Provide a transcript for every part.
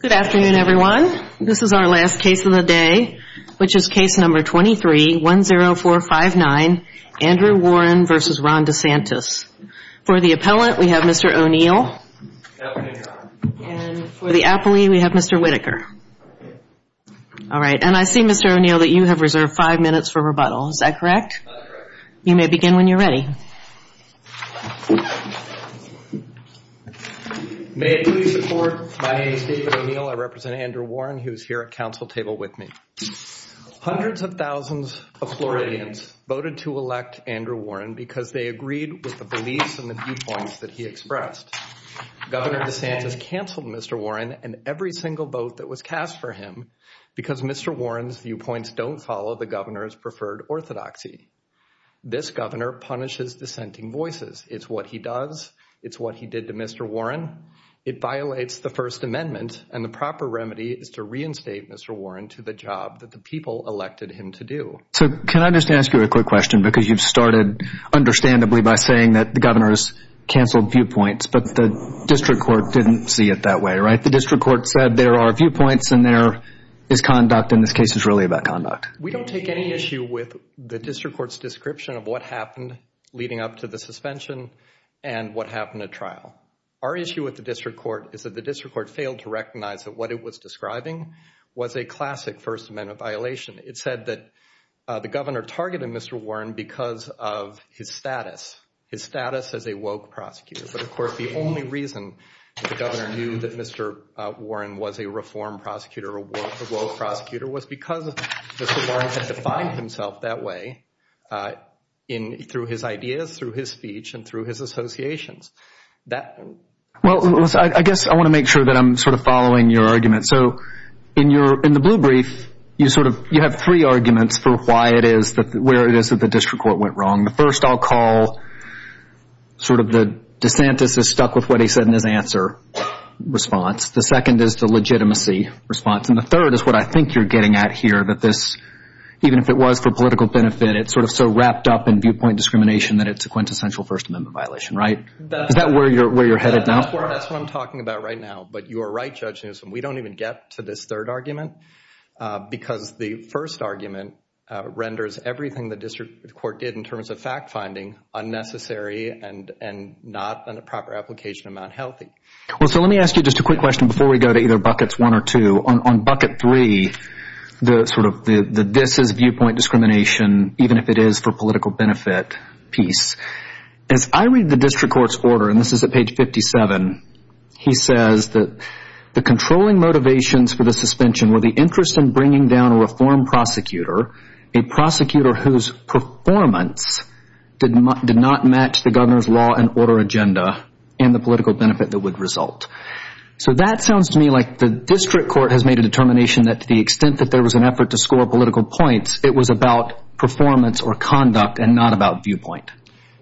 Good afternoon, everyone. This is our last case of the day, which is case number 23-10459, Andrew Warren v. Ron DeSantis. For the appellant, we have Mr. O'Neill. And for the appellee, we have Mr. Whittaker. All right. And I see, Mr. O'Neill, that you have reserved five minutes for rebuttal. Is that correct? You may begin when you're ready. May it please the court, my name is David O'Neill. I represent Andrew Warren. He was here at council table with me. Hundreds of thousands of Floridians voted to elect Andrew Warren because they agreed with the beliefs and the viewpoints that he expressed. Governor DeSantis canceled Mr. Warren and every single vote that was cast for him because Mr. Warren's viewpoints don't follow the governor's preferred orthodoxy. This governor punishes dissenting voices. It's what he does. It's what he did to Mr. Warren. It violates the First Amendment. And the proper remedy is to reinstate Mr. Warren to the job that the people elected him to do. So can I just ask you a quick question? Because you've started, understandably, by saying that the governor's canceled viewpoints. But the district court didn't see it that way, right? The district court said there are viewpoints and there is conduct. And this case is really about conduct. We don't take any issue with the district court's description of what happened leading up to the suspension and what happened at trial. Our issue with the district court is that the district court failed to recognize that what it was describing was a classic First Amendment violation. It said that the governor targeted Mr. Warren because of his status. His status as a woke prosecutor. But, of course, the only reason the governor knew that Mr. Warren was a reformed prosecutor, a woke prosecutor, was because Mr. Warren had defined himself that way through his ideas, through his speech, and through his associations. Well, I guess I want to make sure that I'm sort of following your argument. So in the blue brief, you have three arguments for why it is, where it is that the district court went wrong. The first I'll call sort of the DeSantis is stuck with what he said in his answer response. The second is the legitimacy response. And the third is what I think you're getting at here, that this, even if it was for political benefit, it's sort of so wrapped up in viewpoint discrimination that it's a quintessential First Amendment violation, right? Is that where you're headed now? That's what I'm talking about right now. But you are right, Judge Newsom. We don't even get to this third argument because the first argument renders everything the district court did in terms of fact-finding unnecessary and not, on a proper application, unhealthy. Well, so let me ask you just a quick question before we go to either buckets one or two. On bucket three, the sort of this is viewpoint discrimination, even if it is for political benefit piece. As I read the district court's order, and this is at page 57, he says that the controlling motivations for the suspension were the interest in bringing down a reform prosecutor, a prosecutor whose performance did not match the governor's law and order agenda and the political benefit that would result. So that sounds to me like the district court has made a determination that to the extent that there was an effort to score political points, it was about performance or conduct and not about viewpoint.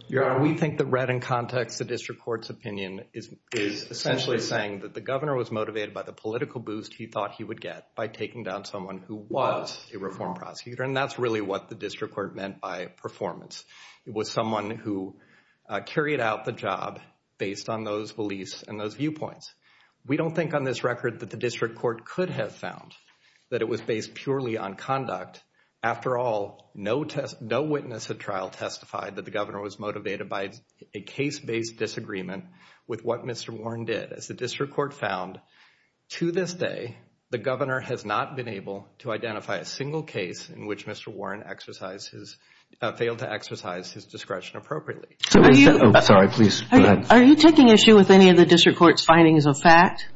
Your Honor, we think that read in context, the district court's opinion is essentially saying that the governor was motivated by the political boost he thought he would get by taking down someone who was a reform prosecutor. And that's really what the district court meant by performance. It was someone who carried out the job based on those beliefs and those viewpoints. We don't think on this record that the district court could have found that it was based purely on conduct. After all, no witness at trial testified that the governor was motivated by a case-based disagreement with what Mr. Warren did. As the district court found, to this day, the governor has not been able to identify a single case in which Mr. Warren failed to exercise his discretion appropriately. Are you taking issue with any of the district court's findings of fact?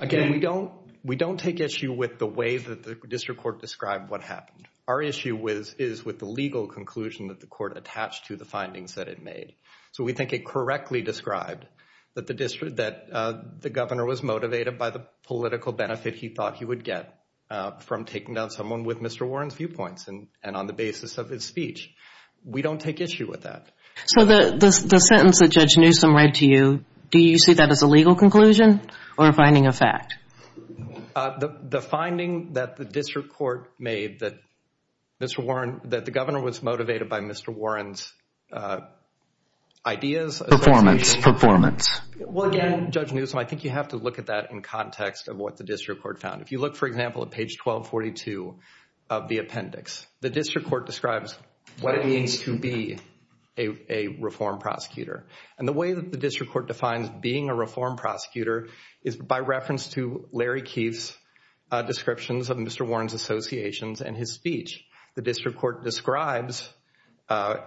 Again, we don't take issue with the way that the district court described what happened. Our issue is with the legal conclusion that the court attached to the findings that it made. So we think it correctly described that the governor was motivated by the political benefit he thought he would get from taking down someone with Mr. Warren's viewpoints and on the basis of his speech. We don't take issue with that. So the sentence that Judge Newsom read to you, do you see that as a legal conclusion or a finding of fact? The finding that the district court made that the governor was motivated by Mr. Warren's ideas. Performance. Performance. Well, again, Judge Newsom, I think you have to look at that in context of what the district court found. If you look, for example, at page 1242 of the appendix, the district court describes what it means to be a reform prosecutor. And the way that the district court defines being a reform prosecutor is by reference to Larry Keefe's descriptions of Mr. Warren's associations and his speech. The district court describes a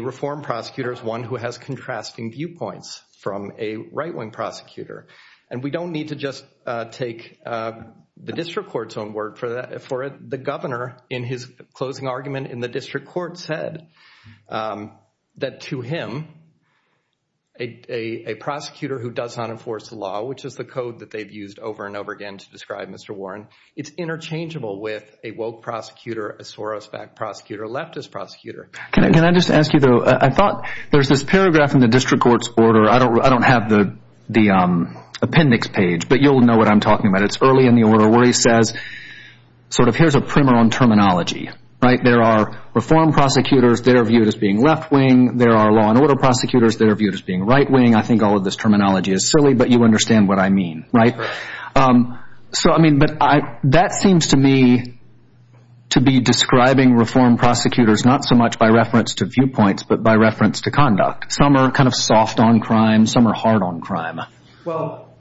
reform prosecutor as one who has contrasting viewpoints from a right-wing prosecutor. And we don't need to just take the district court's own word for it. The governor, in his closing argument in the district court, said that to him, a prosecutor who does not enforce the law, which is the code that they've used over and over again to describe Mr. Warren, it's interchangeable with a woke prosecutor, a soros-backed prosecutor, a leftist prosecutor. Can I just ask you, though? I thought there's this paragraph in the district court's order. I don't have the appendix page, but you'll know what I'm talking about. It's early in the order where he says sort of here's a primer on terminology, right? There are reform prosecutors. They're viewed as being left wing. There are law and order prosecutors. They're viewed as being right wing. I think all of this terminology is silly, but you understand what I mean, right? So, I mean, but that seems to me to be describing reform prosecutors not so much by reference to viewpoints, but by reference to conduct. Some are kind of soft on crime. Some are hard on crime. Well,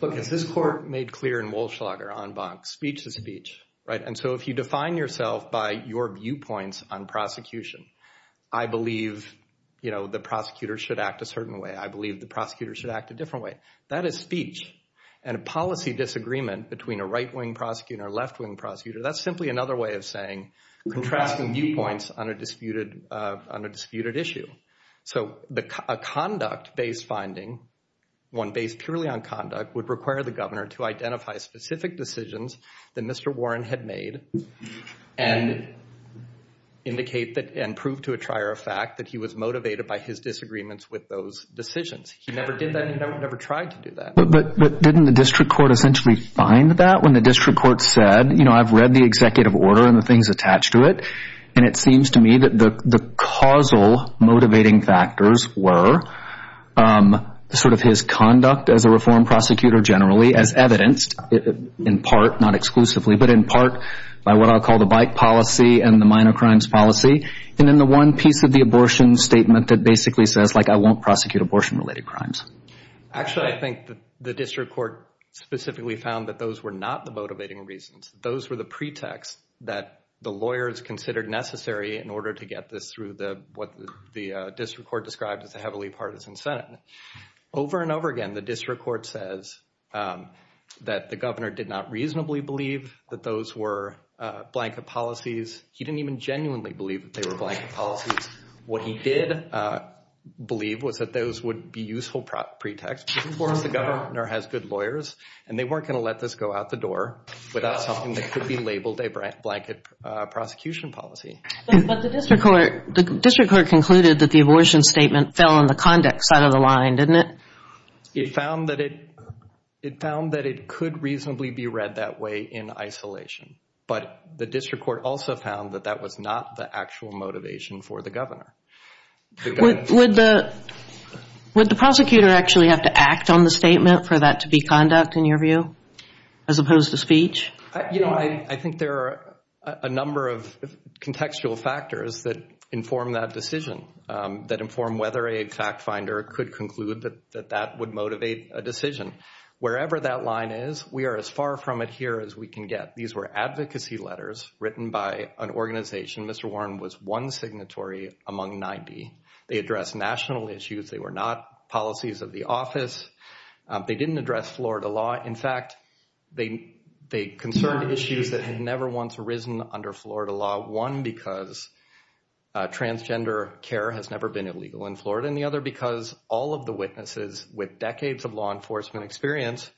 look, as this court made clear in Walschlag or en banc, speech is speech, right? And so if you define yourself by your viewpoints on prosecution, I believe the prosecutor should act a certain way. I believe the prosecutor should act a different way. That is speech. And a policy disagreement between a right wing prosecutor and a left wing prosecutor, that's simply another way of saying contrasting viewpoints on a disputed issue. So a conduct-based finding, one based purely on conduct, would require the governor to identify specific decisions that Mr. Warren had made and indicate that and prove to a trier of fact that he was motivated by his disagreements with those decisions. He never did that and he never tried to do that. But didn't the district court essentially find that? When the district court said, you know, I've read the executive order and the things attached to it, and it seems to me that the causal motivating factors were sort of his conduct as a reform prosecutor generally, as evidenced in part, not exclusively, but in part by what I'll call the bike policy and the minor crimes policy, and then the one piece of the abortion statement that basically says, like, I won't prosecute abortion-related crimes. Actually, I think the district court specifically found that those were not the motivating reasons. Those were the pretext that the lawyers considered necessary in order to get this through what the district court described as a heavily partisan Senate. Over and over again, the district court says that the governor did not reasonably believe that those were blanket policies. He didn't even genuinely believe that they were blanket policies. What he did believe was that those would be useful pretext for the governor has good lawyers, and they weren't going to let this go out the door without something that could be labeled a blanket prosecution policy. But the district court concluded that the abortion statement fell on the conduct side of the line, didn't it? It found that it could reasonably be read that way in isolation. But the district court also found that that was not the actual motivation for the governor. Would the prosecutor actually have to act on the statement for that to be conduct, in your view, as opposed to speech? You know, I think there are a number of contextual factors that inform that decision, that inform whether a fact finder could conclude that that would motivate a decision. Wherever that line is, we are as far from it here as we can get. These were advocacy letters written by an organization. Mr. Warren was one signatory among 90. They address national issues. They were not policies of the office. They didn't address Florida law. In fact, they they concerned issues that had never once arisen under Florida law. One, because transgender care has never been illegal in Florida. And the other, because all of the witnesses with decades of law enforcement experience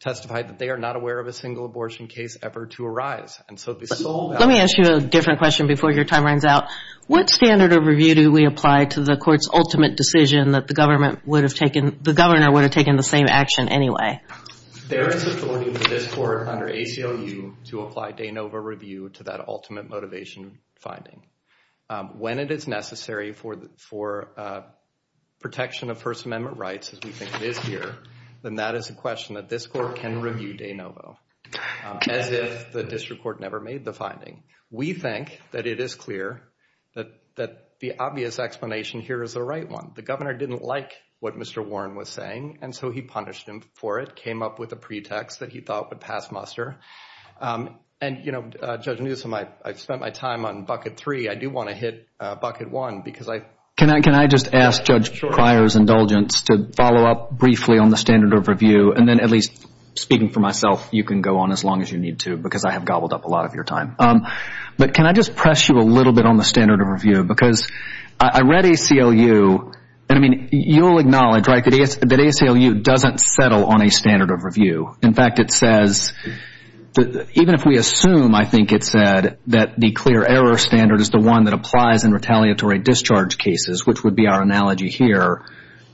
testified that they are not aware of a single abortion case ever to arise. Let me ask you a different question before your time runs out. What standard of review do we apply to the court's ultimate decision that the government would have taken, the governor would have taken the same action anyway? They're supporting this court under ACLU to apply de novo review to that ultimate motivation finding. When it is necessary for protection of First Amendment rights, as we think it is here, then that is a question that this court can review de novo, as if the district court never made the finding. We think that it is clear that the obvious explanation here is the right one. The governor didn't like what Mr. Warren was saying, and so he punished him for it, came up with a pretext that he thought would pass muster. And, you know, Judge Newsom, I've spent my time on bucket three. I do want to hit bucket one because I. Can I just ask Judge Pryor's indulgence to follow up briefly on the standard of review, and then at least speaking for myself, you can go on as long as you need to, because I have gobbled up a lot of your time. But can I just press you a little bit on the standard of review? Because I read ACLU, and, I mean, you'll acknowledge, right, that ACLU doesn't settle on a standard of review. In fact, it says that even if we assume, I think it said, that the clear error standard is the one that applies in retaliatory discharge cases, which would be our analogy here,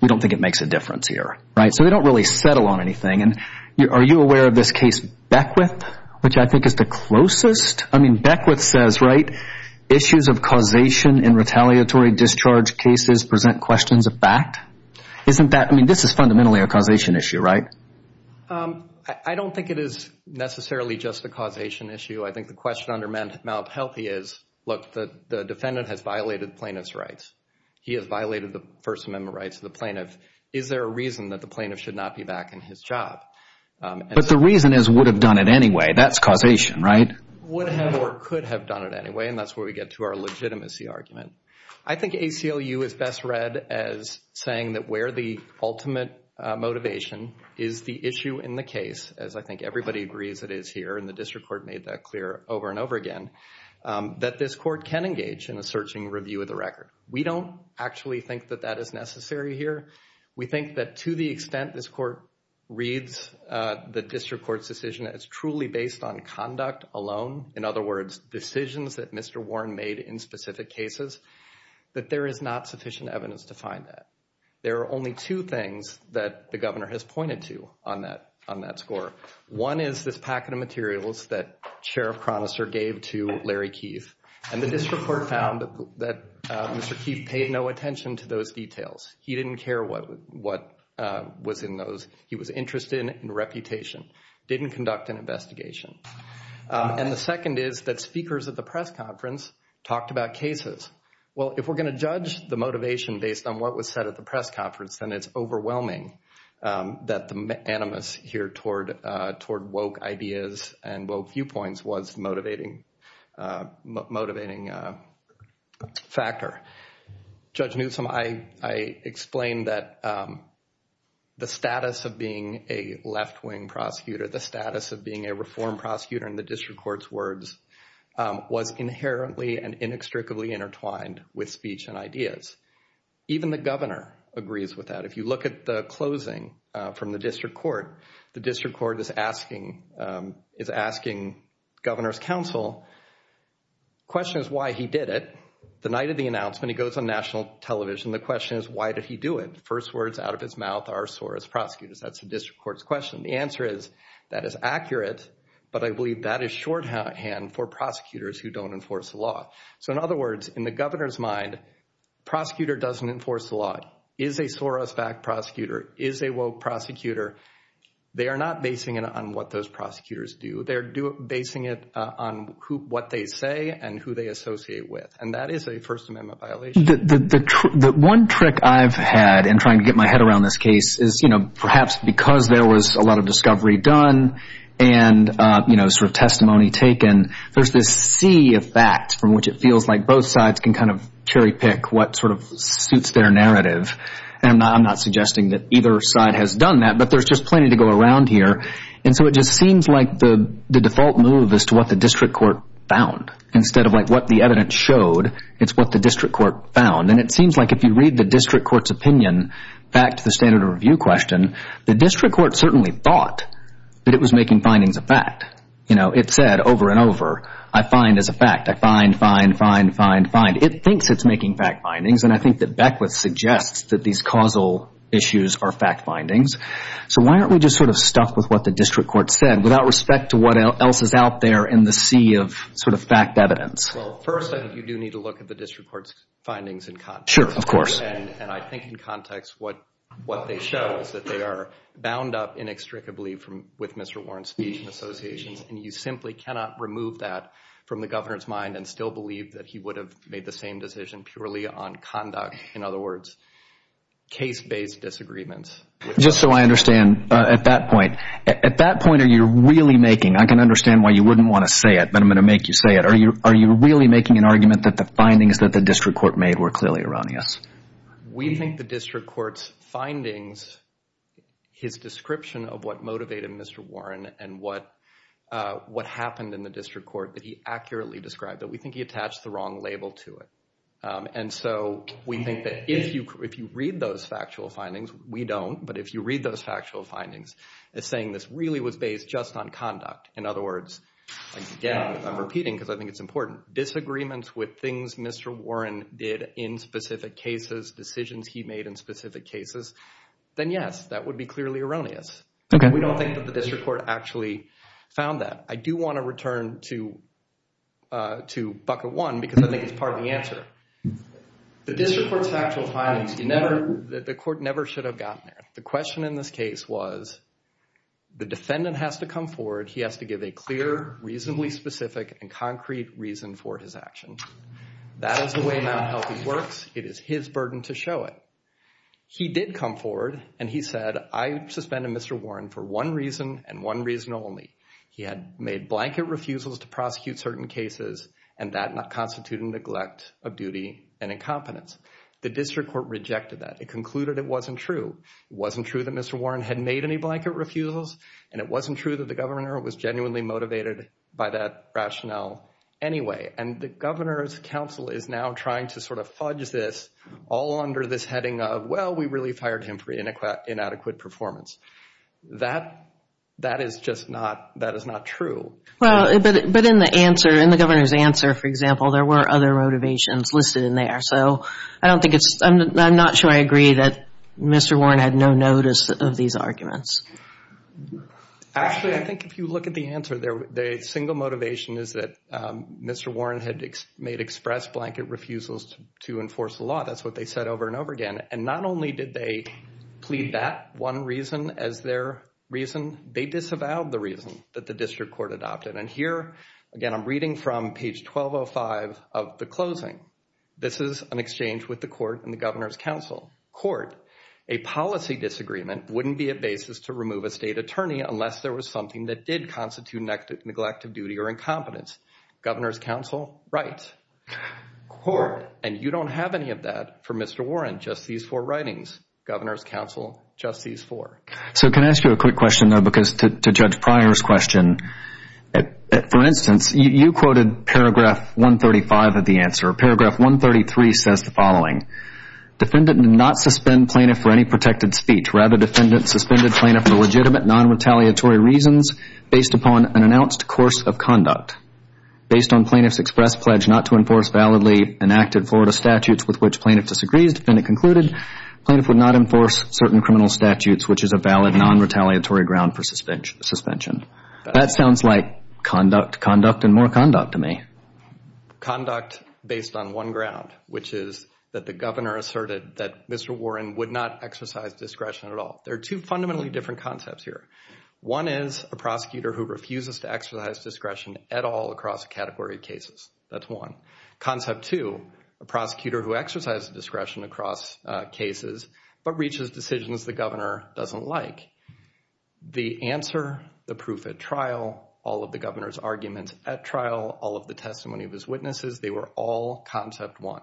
we don't think it makes a difference here, right? So they don't really settle on anything. And are you aware of this case Beckwith, which I think is the closest? I mean, Beckwith says, right, issues of causation in retaliatory discharge cases present questions of fact. Isn't that, I mean, this is fundamentally a causation issue, right? I don't think it is necessarily just a causation issue. I think the question under Malhealthy is, look, the defendant has violated plaintiff's rights. He has violated the First Amendment rights of the plaintiff. Is there a reason that the plaintiff should not be back in his job? But the reason is would have done it anyway. That's causation, right? Would have or could have done it anyway, and that's where we get to our legitimacy argument. I think ACLU is best read as saying that where the ultimate motivation is the issue in the case, as I think everybody agrees it is here, and the district court made that clear over and over again, that this court can engage in a searching review of the record. We don't actually think that that is necessary here. We think that to the extent this court reads the district court's decision as truly based on conduct alone, in other words, decisions that Mr. Warren made in specific cases, that there is not sufficient evidence to find that. There are only two things that the governor has pointed to on that score. One is this packet of materials that Sheriff Chronister gave to Larry Keith, and the district court found that Mr. Keith paid no attention to those details. He didn't care what was in those. He was interested in reputation, didn't conduct an investigation. And the second is that speakers at the press conference talked about cases. Well, if we're going to judge the motivation based on what was said at the press conference, then it's overwhelming that the animus here toward woke ideas and woke viewpoints was a motivating factor. Judge Newsom, I explained that the status of being a left-wing prosecutor, the status of being a reform prosecutor in the district court's words, was inherently and inextricably intertwined with speech and ideas. Even the governor agrees with that. If you look at the closing from the district court, the district court is asking governor's counsel, the question is why he did it. The night of the announcement, he goes on national television, the question is why did he do it. First words out of his mouth are Soros prosecutors. That's the district court's question. The answer is that is accurate, but I believe that is shorthand for prosecutors who don't enforce the law. So in other words, in the governor's mind, prosecutor doesn't enforce the law. Is a Soros-backed prosecutor? Is a woke prosecutor? They are not basing it on what those prosecutors do. They're basing it on what they say and who they associate with. And that is a First Amendment violation. The one trick I've had in trying to get my head around this case is, you know, perhaps because there was a lot of discovery done and, you know, sort of testimony taken, there's this sea of facts from which it feels like both sides can kind of cherry pick what sort of suits their narrative. And I'm not suggesting that either side has done that, but there's just plenty to go around here. And so it just seems like the default move is to what the district court found instead of, like, what the evidence showed, it's what the district court found. And it seems like if you read the district court's opinion back to the standard of review question, the district court certainly thought that it was making findings of fact. You know, it said over and over, I find as a fact. I find, find, find, find, find. It thinks it's making fact findings, and I think that Beckwith suggests that these causal issues are fact findings. So why aren't we just sort of stuck with what the district court said without respect to what else is out there in the sea of sort of fact evidence? Well, first, I think you do need to look at the district court's findings in context. Sure, of course. And I think in context what they show is that they are bound up inextricably with Mr. Warren's speech and associations, and you simply cannot remove that from the governor's mind and still believe that he would have made the same decision purely on conduct, in other words, case-based disagreements. Just so I understand, at that point, at that point are you really making, I can understand why you wouldn't want to say it, but I'm going to make you say it. Are you really making an argument that the findings that the district court made were clearly erroneous? We think the district court's findings, his description of what motivated Mr. Warren and what happened in the district court that he accurately described, that we think he attached the wrong label to it. And so we think that if you read those factual findings, we don't, but if you read those factual findings as saying this really was based just on conduct, in other words, again, I'm repeating because I think it's important, disagreements with things Mr. Warren did in specific cases, decisions he made in specific cases, then yes, that would be clearly erroneous. We don't think that the district court actually found that. I do want to return to bucket one because I think it's part of the answer. The district court's factual findings, the court never should have gotten there. The question in this case was the defendant has to come forward, he has to give a clear, reasonably specific, and concrete reason for his actions. That is the way Mt. Healthy works. It is his burden to show it. He did come forward and he said, I suspended Mr. Warren for one reason and one reason only. He had made blanket refusals to prosecute certain cases, and that not constitute a neglect of duty and incompetence. The district court rejected that. It concluded it wasn't true. It wasn't true that Mr. Warren had made any blanket refusals, and it wasn't true that the governor was genuinely motivated by that rationale anyway. And the governor's counsel is now trying to sort of fudge this all under this heading of, well, we really fired him for inadequate performance. That is just not true. Well, but in the answer, in the governor's answer, for example, there were other motivations listed in there. So I'm not sure I agree that Mr. Warren had no notice of these arguments. Actually, I think if you look at the answer, the single motivation is that Mr. Warren had made express blanket refusals to enforce the law. That's what they said over and over again. And not only did they plead that one reason as their reason, they disavowed the reason that the district court adopted. And here, again, I'm reading from page 1205 of the closing. This is an exchange with the court and the governor's counsel. Court, a policy disagreement wouldn't be a basis to remove a state attorney unless there was something that did constitute neglect of duty or incompetence. Governor's counsel, right. Court, and you don't have any of that for Mr. Warren, just these four writings. Governor's counsel, just these four. So can I ask you a quick question, though, because to Judge Pryor's question, for instance, you quoted paragraph 135 of the answer. Paragraph 133 says the following. Defendant did not suspend plaintiff for any protected speech. Rather, defendant suspended plaintiff for legitimate non-retaliatory reasons based upon an announced course of conduct. Based on plaintiff's express pledge not to enforce validly enacted Florida statutes with which plaintiff disagrees, defendant concluded plaintiff would not enforce certain criminal statutes, which is a valid non-retaliatory ground for suspension. That sounds like conduct, conduct, and more conduct to me. Conduct based on one ground, which is that the governor asserted that Mr. Warren would not exercise discretion at all. There are two fundamentally different concepts here. One is a prosecutor who refuses to exercise discretion at all across a category of cases. That's one. Concept two, a prosecutor who exercises discretion across cases but reaches decisions the governor doesn't like. The answer, the proof at trial, all of the governor's arguments at trial, all of the testimony of his witnesses, they were all concept one.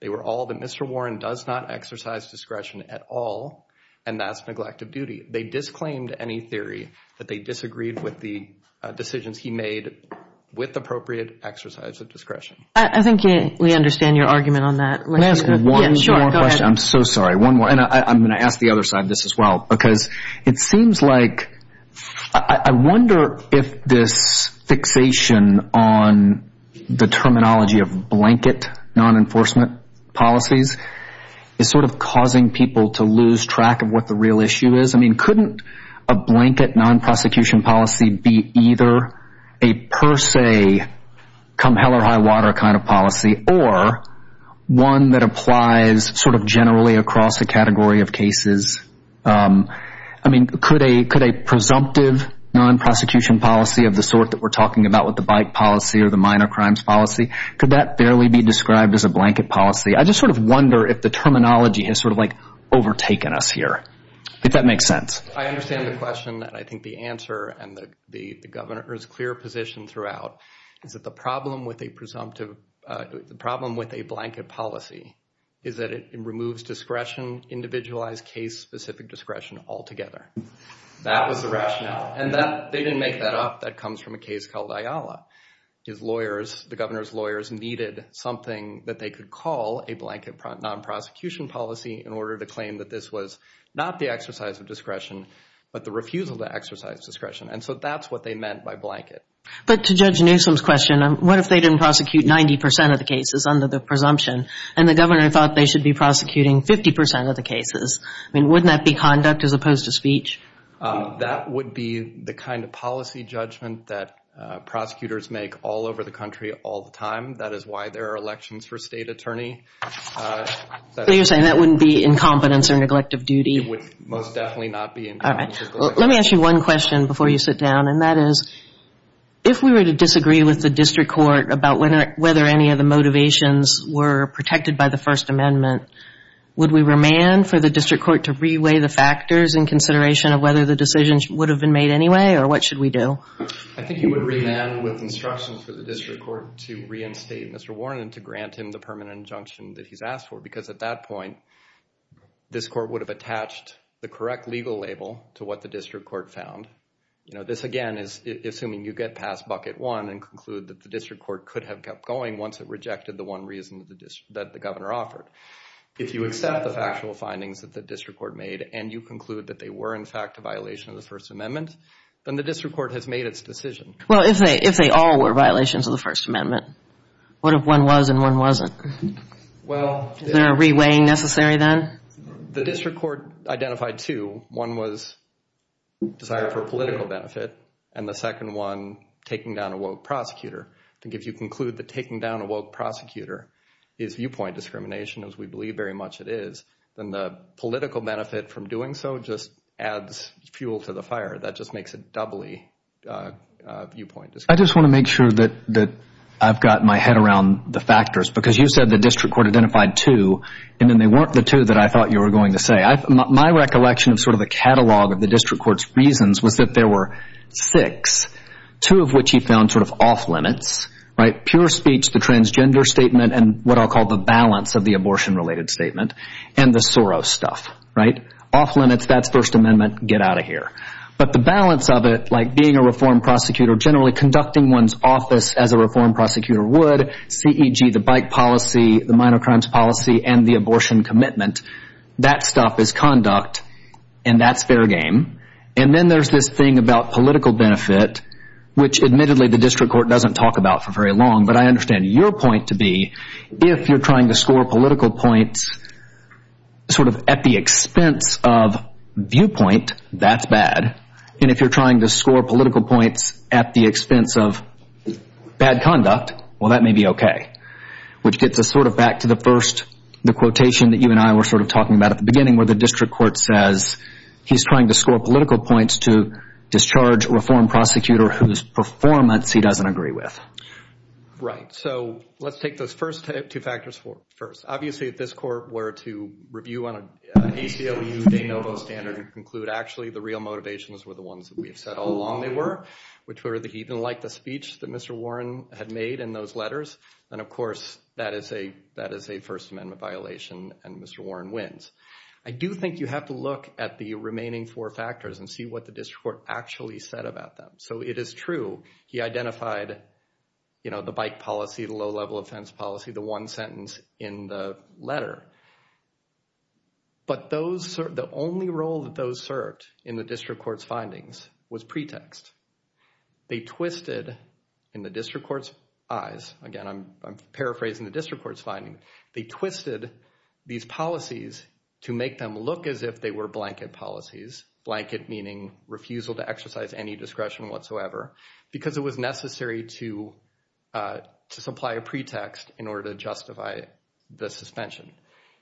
They were all that Mr. Warren does not exercise discretion at all, and that's neglect of duty. They disclaimed any theory that they disagreed with the decisions he made with appropriate exercise of discretion. I think we understand your argument on that. Can I ask one more question? I'm so sorry, one more, and I'm going to ask the other side of this as well because it seems like, I wonder if this fixation on the terminology of blanket non-enforcement policies is sort of causing people to lose track of what the real issue is. I mean, couldn't a blanket non-prosecution policy be either a per se, come hell or high water kind of policy, or one that applies sort of generally across a category of cases? I mean, could a presumptive non-prosecution policy of the sort that we're talking about with the bike policy or the minor crimes policy, could that barely be described as a blanket policy? I just sort of wonder if the terminology has sort of like overtaken us here. If that makes sense. I understand the question, and I think the answer, and the Governor's clear position throughout is that the problem with a presumptive, the problem with a blanket policy is that it removes discretion, individualized case-specific discretion altogether. That was the rationale, and they didn't make that up. That comes from a case called Ayala. His lawyers, the Governor's lawyers, needed something that they could call a blanket non-prosecution policy in order to claim that this was not the exercise of discretion, but the refusal to exercise discretion. And so that's what they meant by blanket. But to Judge Newsom's question, what if they didn't prosecute 90% of the cases under the presumption, and the Governor thought they should be prosecuting 50% of the cases? I mean, wouldn't that be conduct as opposed to speech? That would be the kind of policy judgment that prosecutors make all over the country all the time. That is why there are elections for state attorney. So you're saying that wouldn't be incompetence or neglect of duty? It would most definitely not be incompetence or neglect of duty. All right. Let me ask you one question before you sit down, and that is, if we were to disagree with the district court about whether any of the motivations were protected by the First Amendment, would we remand for the district court to reweigh the factors in consideration of whether the decisions would have been made anyway, or what should we do? I think you would remand with instructions for the district court to reinstate Mr. Warren and to grant him the permanent injunction that he's asked for because at that point, this court would have attached the correct legal label to what the district court found. This, again, is assuming you get past bucket one and conclude that the district court could have kept going once it rejected the one reason that the Governor offered. If you accept the factual findings that the district court made and you conclude that they were, in fact, a violation of the First Amendment, then the district court has made its decision. Well, if they all were violations of the First Amendment, what if one was and one wasn't? Is there a reweighing necessary then? The district court identified two. One was desire for political benefit, and the second one taking down a woke prosecutor. I think if you conclude that taking down a woke prosecutor is viewpoint discrimination, as we believe very much it is, then the political benefit from doing so just adds fuel to the fire. That just makes it doubly viewpoint discrimination. I just want to make sure that I've got my head around the factors because you said the district court identified two, and then they weren't the two that I thought you were going to say. My recollection of sort of the catalog of the district court's reasons was that there were six, two of which he found sort of off-limits, right? And what I'll call the balance of the abortion-related statement and the Soros stuff, right? Off-limits, that's First Amendment, get out of here. But the balance of it, like being a reformed prosecutor, generally conducting one's office as a reformed prosecutor would, C.E.G., the bike policy, the minor crimes policy, and the abortion commitment, that stuff is conduct, and that's fair game. And then there's this thing about political benefit, which admittedly the district court doesn't talk about for very long, but I understand your point to be if you're trying to score political points sort of at the expense of viewpoint, that's bad. And if you're trying to score political points at the expense of bad conduct, well, that may be okay, which gets us sort of back to the first quotation that you and I were sort of talking about at the beginning where the district court says he's trying to score political points to discharge a reformed prosecutor whose performance he doesn't agree with. Right. So let's take those first two factors first. Obviously if this court were to review on an ACLU de novo standard and conclude actually the real motivations were the ones that we've said all along they were, which were even like the speech that Mr. Warren had made in those letters, then of course that is a First Amendment violation and Mr. Warren wins. I do think you have to look at the remaining four factors and see what the district court actually said about them. So it is true he identified the bike policy, the low-level offense policy, the one sentence in the letter. But the only role that those served in the district court's findings was pretext. They twisted in the district court's eyes. Again, I'm paraphrasing the district court's finding. They twisted these policies to make them look as if they were blanket policies, blanket meaning refusal to exercise any discretion whatsoever, because it was necessary to supply a pretext in order to justify the suspension.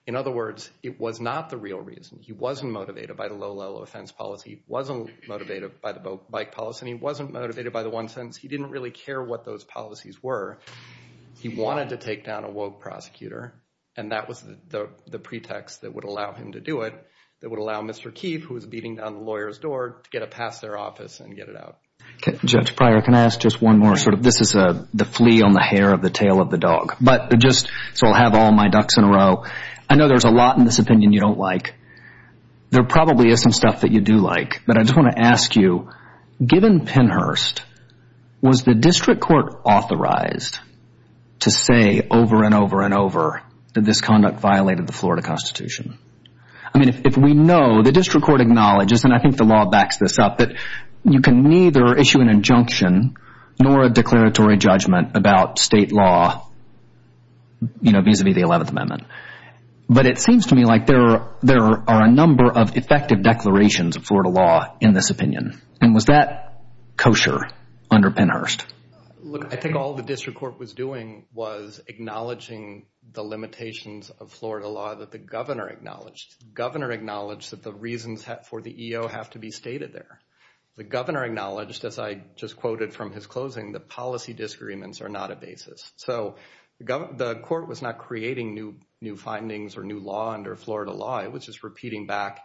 In other words, it was not the real reason. He wasn't motivated by the low-level offense policy. He wasn't motivated by the bike policy, and he wasn't motivated by the one sentence. He didn't really care what those policies were. He wanted to take down a woke prosecutor, and that was the pretext that would allow him to do it, that would allow Mr. Keefe, who was beating down the lawyer's door, to get it past their office and get it out. Judge Pryor, can I ask just one more? This is the flea on the hair of the tail of the dog. So I'll have all my ducks in a row. I know there's a lot in this opinion you don't like. There probably is some stuff that you do like, but I just want to ask you, given Pennhurst, was the district court authorized to say over and over and over that this conduct violated the Florida Constitution? I mean, if we know, the district court acknowledges, and I think the law backs this up, that you can neither issue an injunction nor a declaratory judgment about state law, you know, vis-a-vis the 11th Amendment. But it seems to me like there are a number of effective declarations of Florida law in this opinion, and was that kosher under Pennhurst? Look, I think all the district court was doing was acknowledging the limitations of Florida law that the governor acknowledged. The governor acknowledged that the reasons for the EO have to be stated there. The governor acknowledged, as I just quoted from his closing, that policy disagreements are not a basis. So the court was not creating new findings or new law under Florida law. It was just repeating back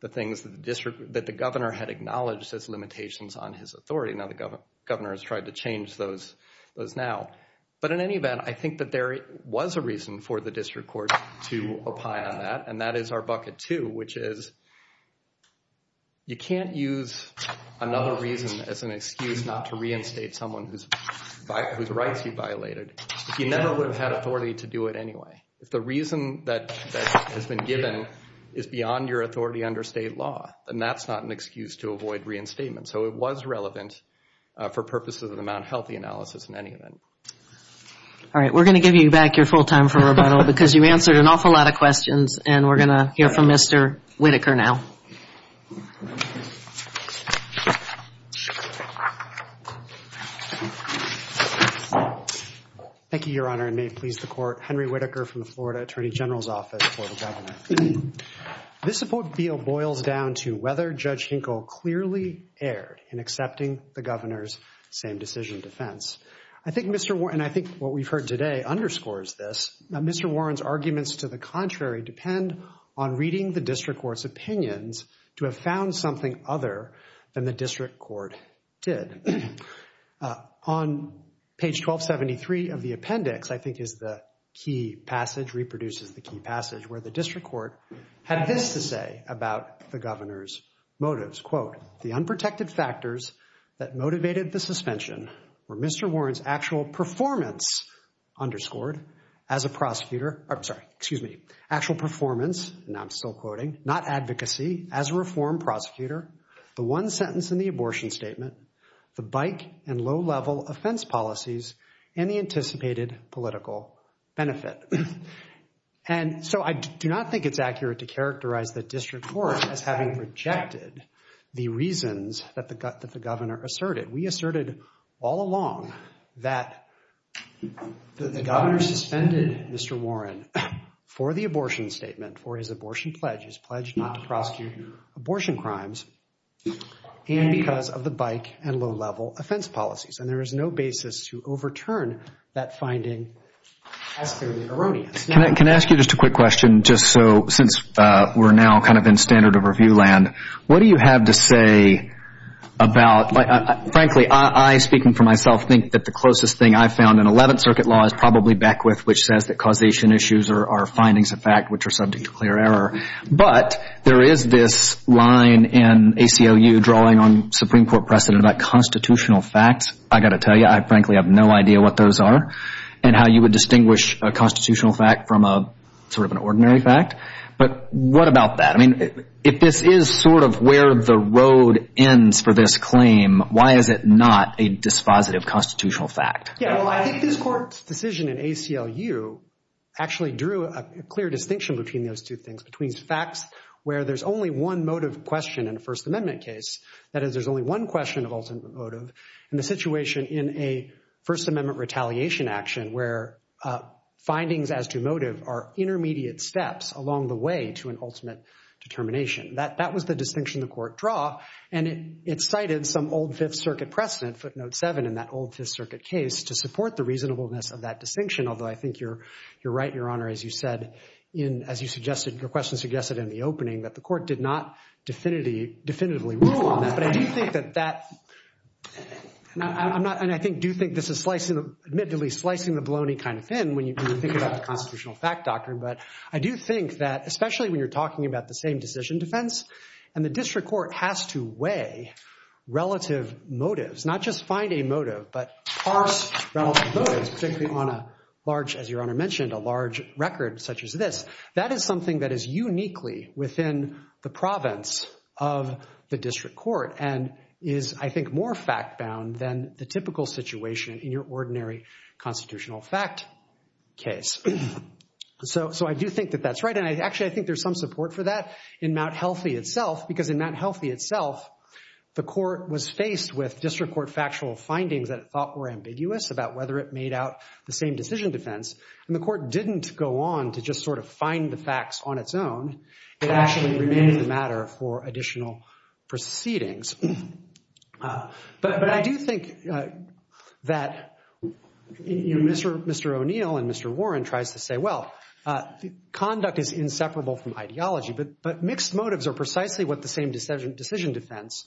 the things that the governor had acknowledged as limitations on his authority. Now the governor has tried to change those now. But in any event, I think that there was a reason for the district court to opine on that, and that is our bucket two, which is you can't use another reason as an excuse not to reinstate someone whose rights you violated if you never would have had authority to do it anyway. If the reason that has been given is beyond your authority under state law, then that's not an excuse to avoid reinstatement. So it was relevant for purposes of the Mount Healthy analysis in any event. All right. We're going to give you back your full time for rebuttal because you answered an awful lot of questions, and we're going to hear from Mr. Whitaker now. Thank you, Your Honor, and may it please the Court. Henry Whitaker from the Florida Attorney General's Office for the Governor. This support bill boils down to whether Judge Hinkle clearly erred in accepting the governor's same-decision defense. I think what we've heard today underscores this. Mr. Warren's arguments to the contrary depend on reading the district court's opinions to have found something other than the district court did. On page 1273 of the appendix, I think is the key passage, reproduces the key passage, where the district court had this to say about the governor's motives. Quote, the unprotected factors that motivated the suspension were Mr. Warren's actual performance underscored as a prosecutor. I'm sorry. Excuse me. Actual performance, and I'm still quoting, not advocacy, as a reform prosecutor. The one sentence in the abortion statement, the bike and low-level offense policies, and the anticipated political benefit. And so I do not think it's accurate to characterize the district court as having rejected the reasons that the governor asserted. We asserted all along that the governor suspended Mr. Warren for the abortion statement, for his abortion pledge, his pledge not to prosecute abortion crimes, and because of the bike and low-level offense policies. And there is no basis to overturn that finding as clearly erroneous. Can I ask you just a quick question, just so, since we're now kind of in standard of review land, what do you have to say about, frankly, I, speaking for myself, think that the closest thing I've found in 11th Circuit law is probably Beckwith, which says that causation issues are findings of fact which are subject to clear error. But there is this line in ACLU drawing on Supreme Court precedent about constitutional facts. I've got to tell you, I frankly have no idea what those are and how you would distinguish a constitutional fact from sort of an ordinary fact. But what about that? I mean, if this is sort of where the road ends for this claim, why is it not a dispositive constitutional fact? Yeah, well, I think this court's decision in ACLU actually drew a clear distinction between those two things, between facts where there's only one motive question in a First Amendment case, that is, there's only one question of ultimate motive, and the situation in a First Amendment retaliation action where findings as to motive are intermediate steps along the way to an ultimate determination. That was the distinction the court drew, and it cited some old Fifth Circuit precedent, footnote 7 in that old Fifth Circuit case, to support the reasonableness of that distinction. Although I think you're right, Your Honor, as you said, as your question suggested in the opening, that the court did not definitively rule on that. But I do think that that—and I do think this is, admittedly, slicing the baloney kind of thin when you think about the constitutional fact doctrine. But I do think that, especially when you're talking about the same decision defense, and the district court has to weigh relative motives, not just find a motive, but parse relative motives, particularly on a large, as Your Honor mentioned, a large record such as this, that is something that is uniquely within the province of the district court and is, I think, more fact-bound than the typical situation in your ordinary constitutional fact case. So I do think that that's right, and actually, I think there's some support for that in Mt. Healthy itself, because in Mt. Healthy itself, the court was faced with district court factual findings that it thought were ambiguous about whether it made out the same decision defense, and the court didn't go on to just sort of find the facts on its own. It actually remained the matter for additional proceedings. But I do think that Mr. O'Neill and Mr. Warren tries to say, well, conduct is inseparable from ideology, but mixed motives are precisely what the same decision defense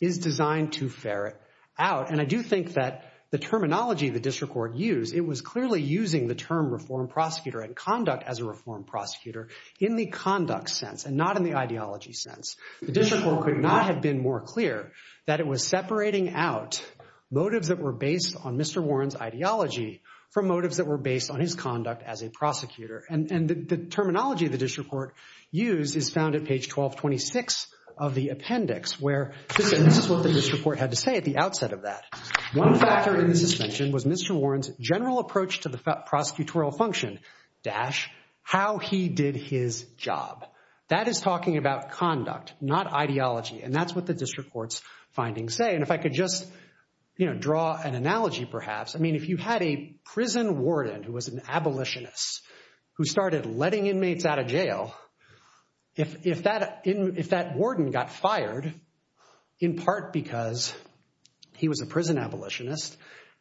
is designed to ferret out. And I do think that the terminology the district court used, it was clearly using the term reform prosecutor and conduct as a reform prosecutor in the conduct sense and not in the ideology sense. The district court could not have been more clear that it was separating out motives that were based on Mr. Warren's ideology from motives that were based on his conduct as a prosecutor. And the terminology the district court used is found at page 1226 of the appendix, where this is what the district court had to say at the outset of that. One factor in the suspension was Mr. Warren's general approach to the prosecutorial function, dash, how he did his job. That is talking about conduct, not ideology. And that's what the district court's findings say. And if I could just draw an analogy, perhaps, I mean, if you had a prison warden who was an abolitionist who started letting inmates out of jail, if that warden got fired in part because he was a prison abolitionist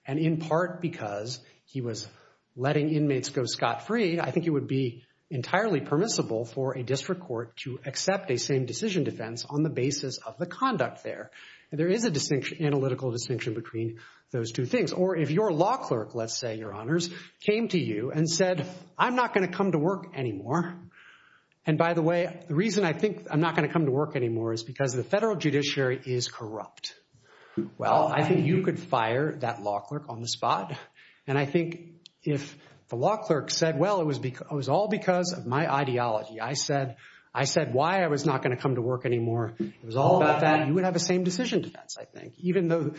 and in part because he was letting inmates go scot-free, I think it would be entirely permissible for a district court to accept a same-decision defense on the basis of the conduct there. And there is an analytical distinction between those two things. Or if your law clerk, let's say, Your Honors, came to you and said, I'm not going to come to work anymore. And by the way, the reason I think I'm not going to come to work anymore is because the federal judiciary is corrupt. Well, I think you could fire that law clerk on the spot. And I think if the law clerk said, well, it was all because of my ideology. I said why I was not going to come to work anymore. It was all about that, you would have a same-decision defense, I think, even though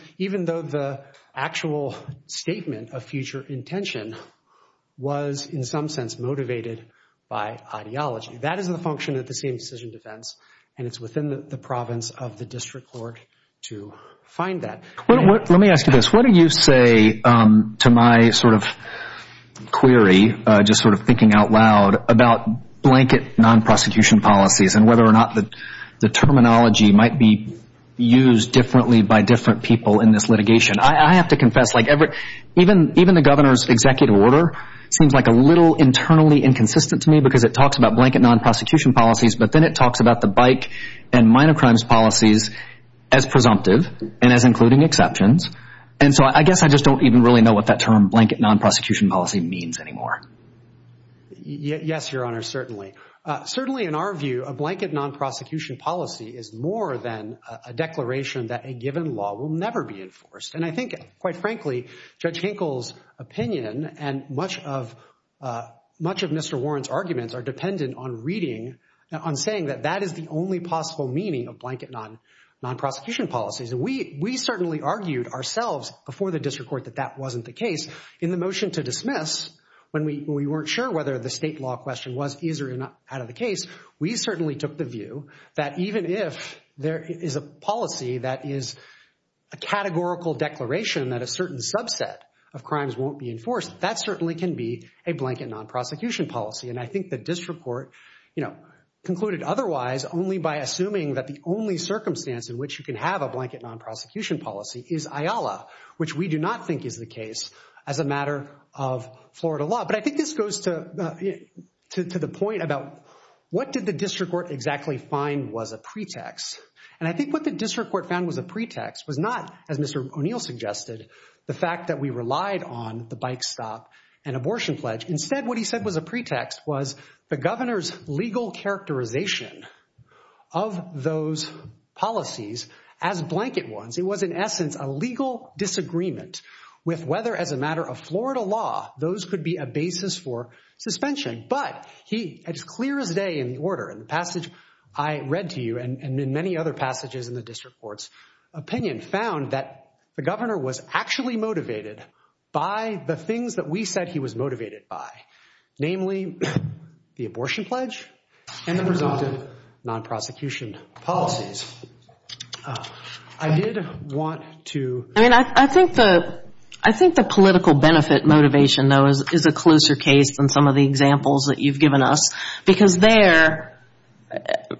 the actual statement of future intention was in some sense motivated by ideology. That is the function of the same-decision defense. And it's within the province of the district court to find that. Let me ask you this. What do you say to my sort of query, just sort of thinking out loud, about blanket non-prosecution policies and whether or not the terminology might be used differently by different people in this litigation? I have to confess, like, even the governor's executive order seems like a little internally inconsistent to me because it talks about blanket non-prosecution policies, but then it talks about the bike and minor crimes policies as presumptive and as including exceptions. And so I guess I just don't even really know what that term blanket non-prosecution policy means anymore. Yes, Your Honor, certainly. Certainly in our view, a blanket non-prosecution policy is more than a declaration that a given law will never be enforced. And I think, quite frankly, Judge Hinkle's opinion and much of Mr. Warren's arguments are dependent on reading, on saying that that is the only possible meaning of blanket non-prosecution policies. And we certainly argued ourselves before the district court that that wasn't the case. In the motion to dismiss, when we weren't sure whether the state law question was easier or not out of the case, we certainly took the view that even if there is a policy that is a categorical declaration that a certain subset of crimes won't be enforced, that certainly can be a blanket non-prosecution policy. And I think the district court concluded otherwise only by assuming that the only circumstance in which you can have a blanket non-prosecution policy is IALA, which we do not think is the case as a matter of Florida law. But I think this goes to the point about what did the district court exactly find was a pretext? And I think what the district court found was a pretext was not, as Mr. O'Neill suggested, the fact that we relied on the bike stop and abortion pledge. Instead, what he said was a pretext was the governor's legal characterization of those policies as blanket ones. It was, in essence, a legal disagreement with whether, as a matter of Florida law, those could be a basis for suspension. But he, as clear as day in the order, in the passage I read to you, and in many other passages in the district court's opinion, found that the governor was actually motivated by the things that we said he was motivated by, namely the abortion pledge and the resultant non-prosecution policies. I did want to – I mean, I think the political benefit motivation, though, is a closer case than some of the examples that you've given us because there –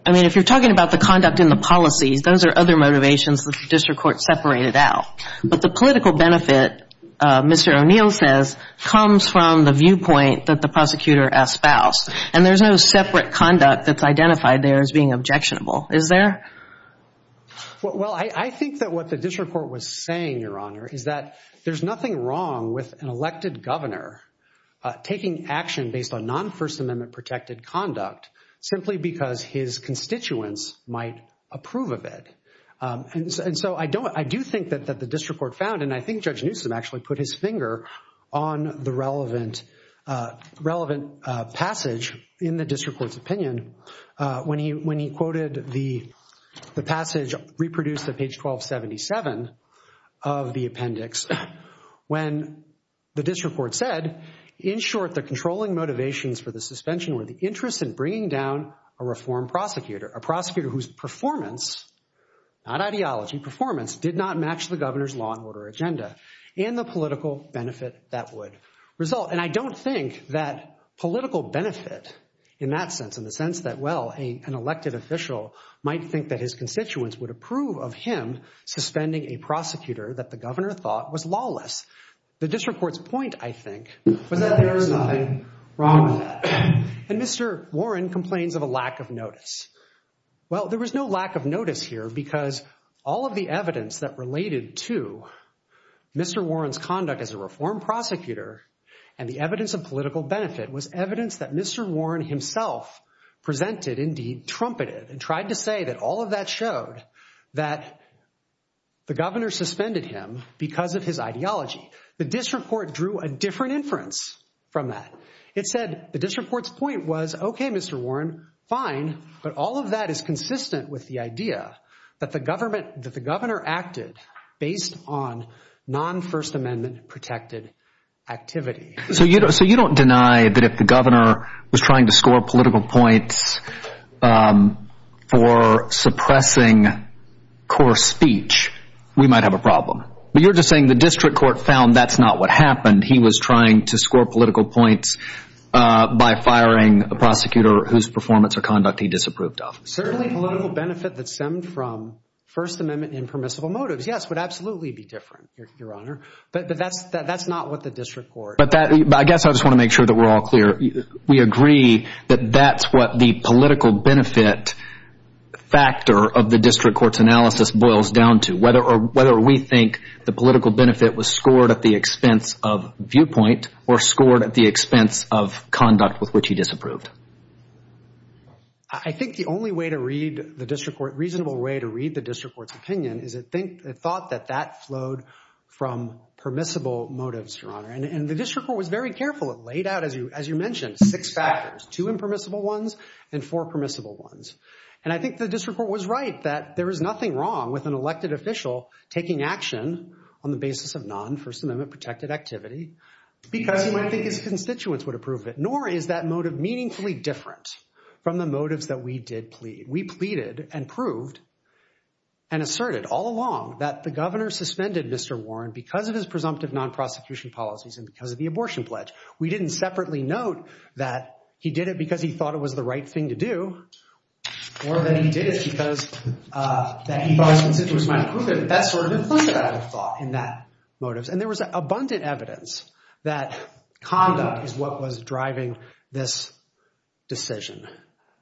I mean, if you're talking about the conduct and the policies, those are other motivations that the district court separated out. But the political benefit, Mr. O'Neill says, comes from the viewpoint that the prosecutor espoused. And there's no separate conduct that's identified there as being objectionable, is there? Well, I think that what the district court was saying, Your Honor, is that there's nothing wrong with an elected governor taking action based on non-First Amendment-protected conduct simply because his constituents might approve of it. And so I don't – I do think that the district court found, and I think Judge Newsom actually put his finger on the relevant passage in the district court's opinion when he quoted the passage reproduced at page 1277 of the appendix when the district court said, in short, the controlling motivations for the suspension were the interest in bringing down a reformed prosecutor, a prosecutor whose performance – not ideology – performance did not match the governor's law and order agenda and the political benefit that would result. And I don't think that political benefit in that sense, in the sense that, well, an elected official might think that his constituents would approve of him suspending a prosecutor that the governor thought was lawless. The district court's point, I think, was that there is nothing wrong with that. And Mr. Warren complains of a lack of notice. Well, there was no lack of notice here because all of the evidence that related to Mr. Warren's conduct as a reformed prosecutor and the evidence of political benefit was evidence that Mr. Warren himself presented, indeed trumpeted, and tried to say that all of that showed that the governor suspended him because of his ideology. The district court drew a different inference from that. It said the district court's point was, okay, Mr. Warren, fine, but all of that is consistent with the idea that the governor acted based on non-First Amendment-protected activity. So you don't deny that if the governor was trying to score political points for suppressing coarse speech, we might have a problem. But you're just saying the district court found that's not what happened. He was trying to score political points by firing a prosecutor whose performance or conduct he disapproved of. Certainly political benefit that stemmed from First Amendment impermissible motives, yes, would absolutely be different, Your Honor. But that's not what the district court— But I guess I just want to make sure that we're all clear. We agree that that's what the political benefit factor of the district court's analysis boils down to, whether we think the political benefit was scored at the expense of viewpoint or scored at the expense of conduct with which he disapproved. I think the only way to read the district court, reasonable way to read the district court's opinion, is it thought that that flowed from permissible motives, Your Honor. And the district court was very careful. It laid out, as you mentioned, six factors, two impermissible ones and four permissible ones. And I think the district court was right that there is nothing wrong with an elected official taking action on the basis of non-First Amendment-protected activity because he might think his constituents would approve it. Nor is that motive meaningfully different from the motives that we did plead. We did and proved and asserted all along that the governor suspended Mr. Warren because of his presumptive non-prosecution policies and because of the abortion pledge. We didn't separately note that he did it because he thought it was the right thing to do or that he did it because that he thought his constituents might approve it. That's sort of implicit, I would have thought, in that motive. And there was abundant evidence that conduct is what was driving this decision.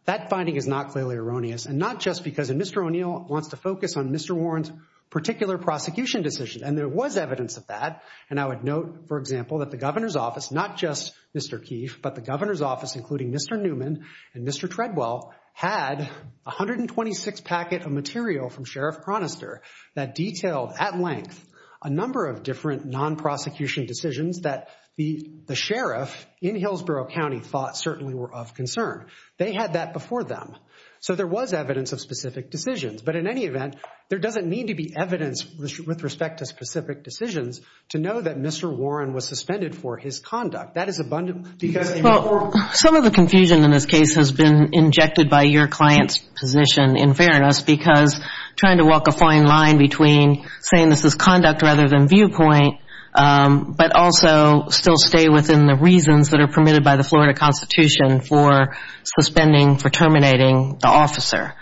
That finding is not clearly erroneous and not just because Mr. O'Neill wants to focus on Mr. Warren's particular prosecution decision, and there was evidence of that. And I would note, for example, that the governor's office, not just Mr. Keefe, but the governor's office, including Mr. Newman and Mr. Treadwell, had 126 packets of material from Sheriff Chronister that detailed at length a number of different non-prosecution decisions that the sheriff in Hillsborough County thought certainly were of concern. They had that before them. So there was evidence of specific decisions. But in any event, there doesn't need to be evidence with respect to specific decisions to know that Mr. Warren was suspended for his conduct. That is abundant. Well, some of the confusion in this case has been injected by your client's position in fairness because trying to walk a fine line between saying this is conduct rather than viewpoint but also still stay within the reasons that are permitted by the Florida Constitution for suspending, for terminating the officer.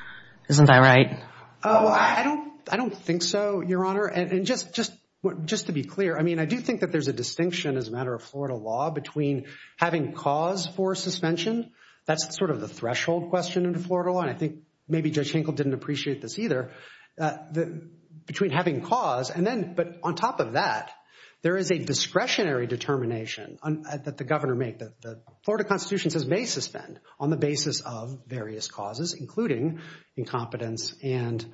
Isn't that right? Oh, I don't think so, Your Honor. And just to be clear, I mean, I do think that there's a distinction as a matter of Florida law between having cause for suspension. That's sort of the threshold question in the Florida law, and I think maybe Judge Hinkle didn't appreciate this either, between having cause and then, but on top of that, there is a discretionary determination that the governor made. The Florida Constitution says may suspend on the basis of various causes, including incompetence and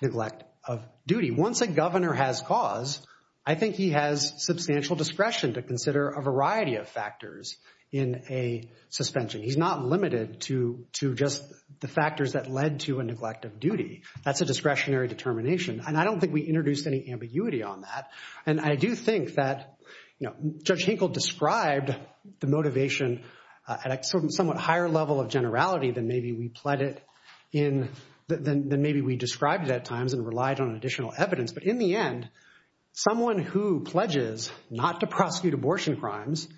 neglect of duty. Once a governor has cause, I think he has substantial discretion to consider a variety of factors in a suspension. He's not limited to just the factors that led to a neglect of duty. That's a discretionary determination, and I don't think we introduced any ambiguity on that. And I do think that, you know, Judge Hinkle described the motivation at a somewhat higher level of generality than maybe we described it at times and relied on additional evidence. But in the end, someone who pledges not to prosecute abortion crimes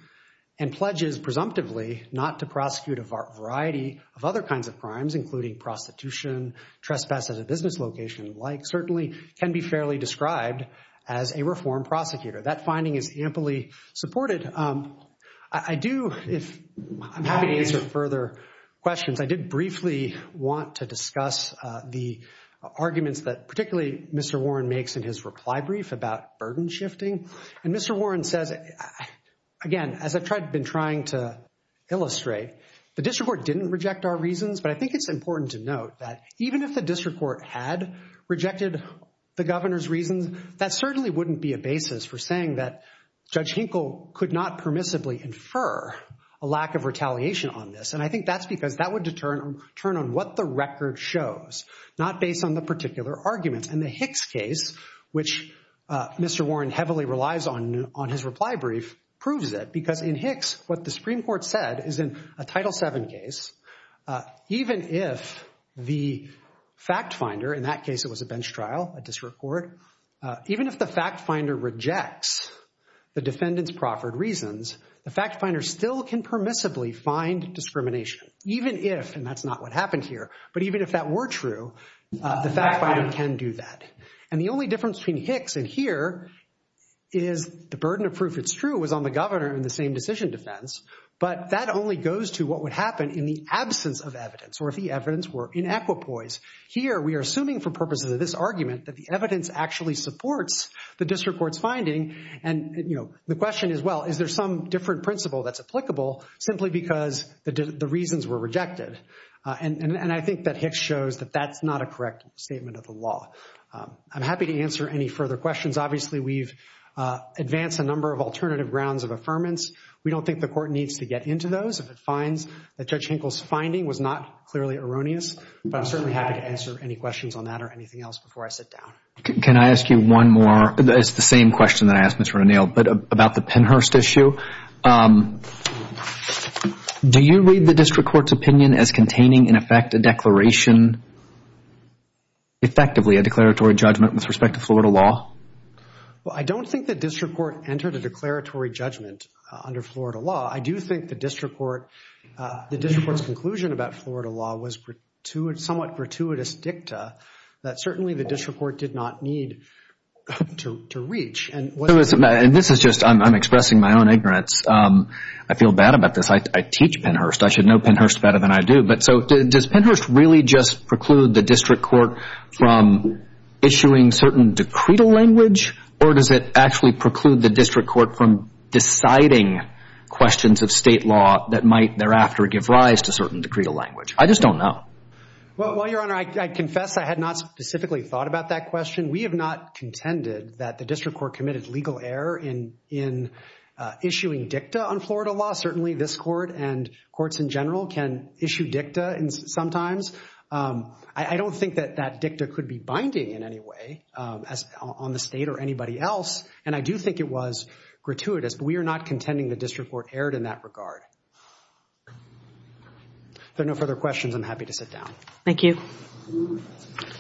and pledges presumptively not to prosecute a variety of other kinds of crimes, including prostitution, trespass at a business location, and the like, certainly can be fairly described as a reform prosecutor. That finding is amply supported. I do, if I'm happy to answer further questions, I did briefly want to discuss the arguments that particularly Mr. Warren makes in his reply brief about burden shifting. And Mr. Warren says, again, as I've been trying to illustrate, the district court didn't reject our reasons, but I think it's important to note that even if the district court had rejected the governor's reasons, that certainly wouldn't be a basis for saying that Judge Hinkle could not permissibly infer a lack of retaliation on this. And I think that's because that would determine what the record shows, not based on the particular arguments. And the Hicks case, which Mr. Warren heavily relies on in his reply brief, proves it, because in Hicks, what the Supreme Court said is in a Title VII case, even if the fact finder, in that case it was a bench trial, a district court, even if the fact finder rejects the defendant's proffered reasons, the fact finder still can permissibly find discrimination, even if, and that's not what happened here, but even if that were true, the fact finder can do that. And the only difference between Hicks and here is the burden of proof it's true it was on the governor in the same decision defense, but that only goes to what would happen in the absence of evidence, or if the evidence were inequipoise. Here we are assuming for purposes of this argument that the evidence actually supports the district court's finding, and the question is, well, is there some different principle that's applicable simply because the reasons were rejected? And I think that Hicks shows that that's not a correct statement of the law. I'm happy to answer any further questions. Obviously, we've advanced a number of alternative grounds of affirmance. We don't think the court needs to get into those. If it finds that Judge Hinkle's finding was not clearly erroneous, I'm certainly happy to answer any questions on that or anything else before I sit down. Can I ask you one more? It's the same question that I asked Mr. O'Neill, but about the Pennhurst issue. Do you read the district court's opinion as containing, in effect, a declaration, effectively a declaratory judgment with respect to Florida law? Well, I don't think the district court entered a declaratory judgment under Florida law. I do think the district court's conclusion about Florida law was somewhat gratuitous dicta that certainly the district court did not need to reach. And this is just I'm expressing my own ignorance. I feel bad about this. I teach Pennhurst. I should know Pennhurst better than I do. But so does Pennhurst really just preclude the district court from issuing certain decretal language or does it actually preclude the district court from deciding questions of state law that might thereafter give rise to certain decretal language? I just don't know. Well, Your Honor, I confess I had not specifically thought about that question. We have not contended that the district court committed legal error in issuing dicta on Florida law. Certainly this court and courts in general can issue dicta sometimes. I don't think that that dicta could be binding in any way on the state or anybody else, and I do think it was gratuitous. But we are not contending the district court erred in that regard. If there are no further questions, I'm happy to sit down. Thank you.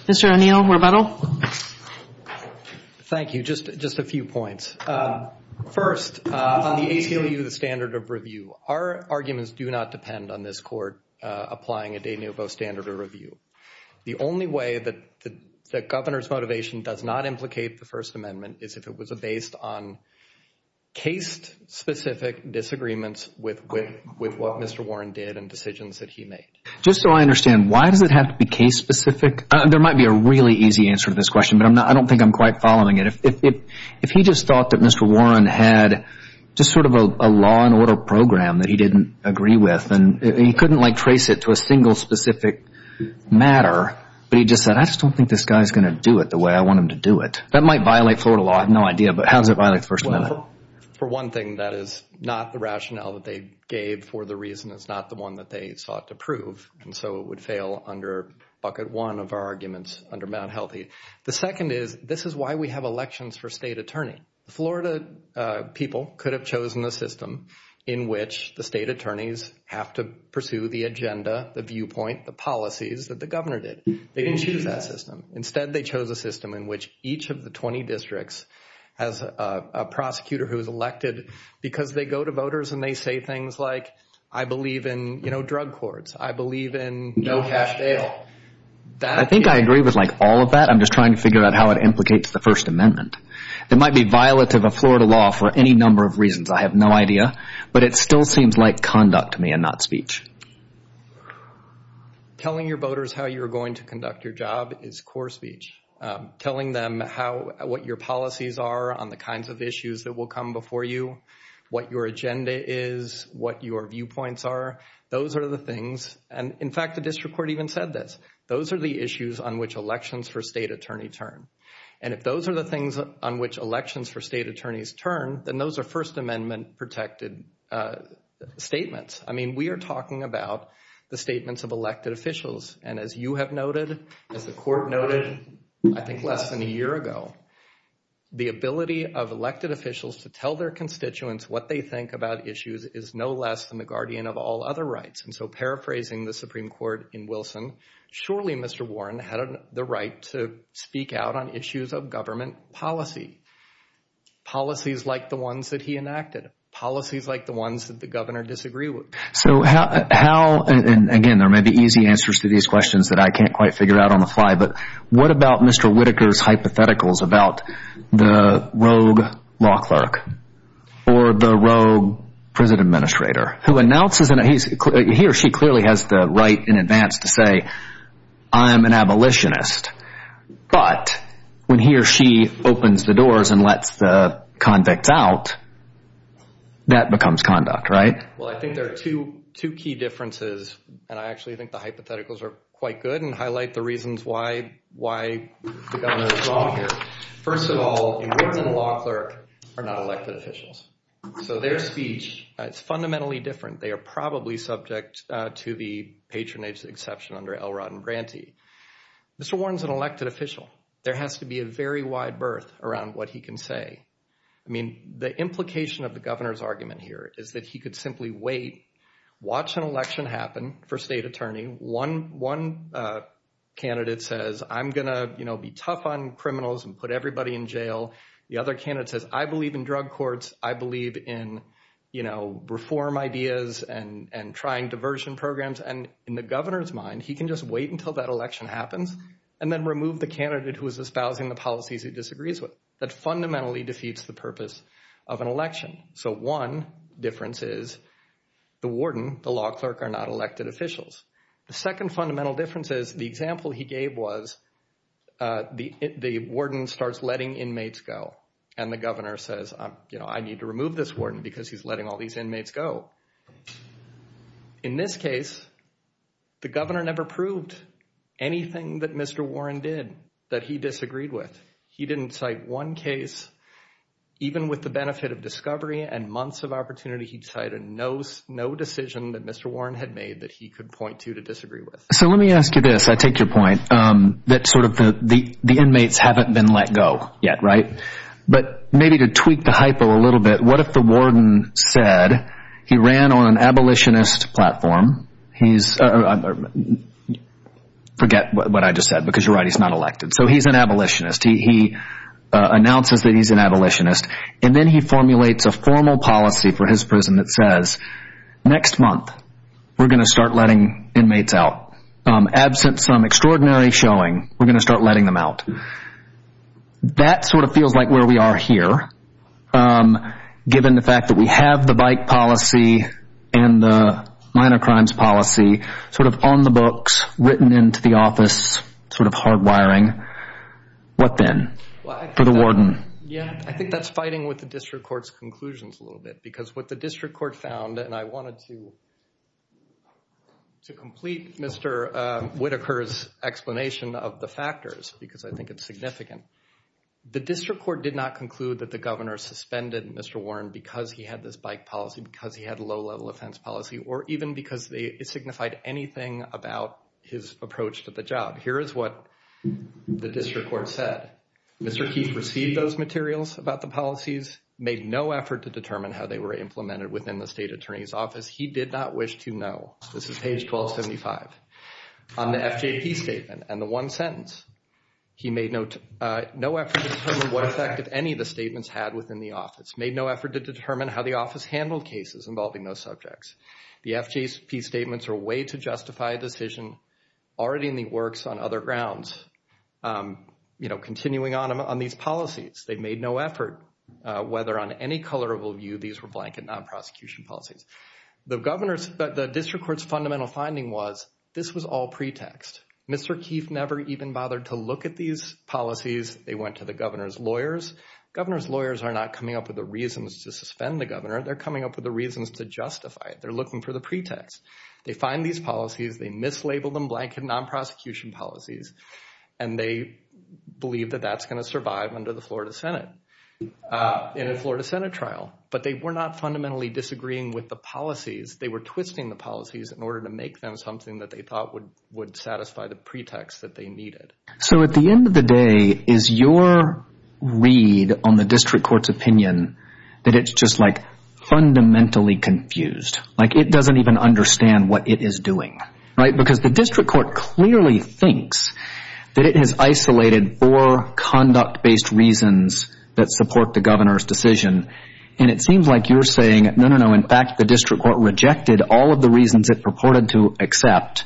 Mr. O'Neill, rebuttal. Thank you. Just a few points. First, on the ACLU, the standard of review, our arguments do not depend on this court applying a de novo standard of review. The only way that the governor's motivation does not implicate the First Amendment is if it was based on case-specific disagreements with what Mr. Warren did and decisions that he made. Just so I understand, why does it have to be case-specific? There might be a really easy answer to this question, but I don't think I'm quite following it. If he just thought that Mr. Warren had just sort of a law and order program that he didn't agree with and he couldn't trace it to a single specific matter, but he just said, I just don't think this guy is going to do it the way I want him to do it. That might violate Florida law. I have no idea, but how does it violate the First Amendment? For one thing, that is not the rationale that they gave for the reason. It's not the one that they sought to prove, and so it would fail under bucket one of our arguments under Mt. Healthy. The second is, this is why we have elections for state attorney. The Florida people could have chosen a system in which the state attorneys have to pursue the agenda, the viewpoint, the policies that the governor did. They didn't choose that system. Instead, they chose a system in which each of the 20 districts has a prosecutor who is elected because they go to voters and they say things like, I believe in drug courts. I believe in no cash bail. I think I agree with all of that. I'm just trying to figure out how it implicates the First Amendment. It might be violative of Florida law for any number of reasons. I have no idea, but it still seems like conduct to me and not speech. Telling your voters how you're going to conduct your job is core speech. Telling them what your policies are on the kinds of issues that will come before you, what your agenda is, what your viewpoints are, those are the things. In fact, the district court even said this. Those are the issues on which elections for state attorney turn. If those are the things on which elections for state attorneys turn, then those are First Amendment protected statements. We are talking about the statements of elected officials. As you have noted, as the court noted, I think less than a year ago, the ability of elected officials to tell their constituents what they think about issues is no less than the guardian of all other rights. Paraphrasing the Supreme Court in Wilson, surely Mr. Warren had the right to speak out on issues of government policy. Policies like the ones that he enacted. Policies like the ones that the governor disagreed with. Again, there may be easy answers to these questions that I can't quite figure out on the fly, but what about Mr. Whitaker's hypotheticals about the rogue law clerk or the rogue prison administrator? He or she clearly has the right in advance to say, I am an abolitionist, but when he or she opens the doors and lets the convicts out, that becomes conduct, right? Well, I think there are two key differences, and I actually think the hypotheticals are quite good and highlight the reasons why the governor is wrong here. First of all, in Wilson, law clerks are not elected officials. So their speech is fundamentally different. They are probably subject to the patronage exception under Elrod and Grantee. Mr. Warren is an elected official. There has to be a very wide berth around what he can say. I mean, the implication of the governor's argument here is that he could simply wait, watch an election happen for state attorney. One candidate says, I'm going to be tough on criminals and put everybody in jail. The other candidate says, I believe in drug courts. I believe in reform ideas and trying diversion programs. And in the governor's mind, he can just wait until that election happens and then remove the candidate who is espousing the policies he disagrees with. That fundamentally defeats the purpose of an election. So one difference is the warden, the law clerk, are not elected officials. The second fundamental difference is the example he gave was the warden starts letting inmates go and the governor says, I need to remove this warden because he's letting all these inmates go. In this case, the governor never proved anything that Mr. Warren did that he disagreed with. He didn't cite one case. Even with the benefit of discovery and months of opportunity, he cited no decision that Mr. Warren had made that he could point to to disagree with. So let me ask you this. I take your point that sort of the inmates haven't been let go yet, right? But maybe to tweak the hypo a little bit, what if the warden said he ran on an abolitionist platform? Forget what I just said because you're right. He's not elected. So he's an abolitionist. He announces that he's an abolitionist. And then he formulates a formal policy for his prison that says, next month we're going to start letting inmates out. Absent some extraordinary showing, we're going to start letting them out. That sort of feels like where we are here given the fact that we have the bike policy and the minor crimes policy sort of on the books, written into the office, sort of hardwiring. What then for the warden? Yeah, I think that's fighting with the district court's conclusions a little bit because what the district court found, and I wanted to complete Mr. Whitaker's explanation of the factors because I think it's significant. The district court did not conclude that the governor suspended Mr. Warren because he had this bike policy, because he had a low-level offense policy, or even because it signified anything about his approach to the job. Here is what the district court said. Mr. Keith received those materials about the policies, made no effort to determine how they were implemented within the state attorney's office. He did not wish to know. This is page 1275 on the FJP statement. And the one sentence, he made no effort to determine what effect any of the statements had within the office, made no effort to determine how the office handled cases involving those subjects. The FJP statements are a way to justify a decision already in the works on other grounds, you know, continuing on these policies. They made no effort whether on any color of review these were blanket non-prosecution policies. The district court's fundamental finding was this was all pretext. Mr. Keith never even bothered to look at these policies. They went to the governor's lawyers. Governor's lawyers are not coming up with the reasons to suspend the governor. They're coming up with the reasons to justify it. They're looking for the pretext. They find these policies. They mislabel them blanket non-prosecution policies, and they believe that that's going to survive under the Florida Senate in a Florida Senate trial. But they were not fundamentally disagreeing with the policies. They were twisting the policies in order to make them something that they thought would satisfy the pretext that they needed. So at the end of the day, is your read on the district court's opinion that it's just, like, fundamentally confused? Like, it doesn't even understand what it is doing, right? Because the district court clearly thinks that it has isolated four conduct-based reasons that support the governor's decision, and it seems like you're saying, no, no, no, in fact, the district court rejected all of the reasons it purported to accept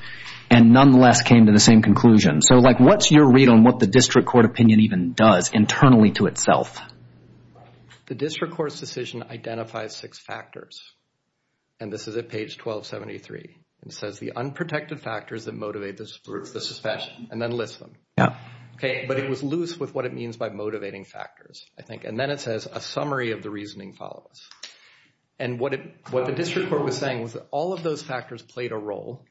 and nonetheless came to the same conclusion. So, like, what's your read on what the district court opinion even does internally to itself? The district court's decision identifies six factors, and this is at page 1273. It says the unprotected factors that motivate the suspension, and then lists them. But it was loose with what it means by motivating factors, I think. And then it says a summary of the reasoning follows. And what the district court was saying was that all of those factors played a role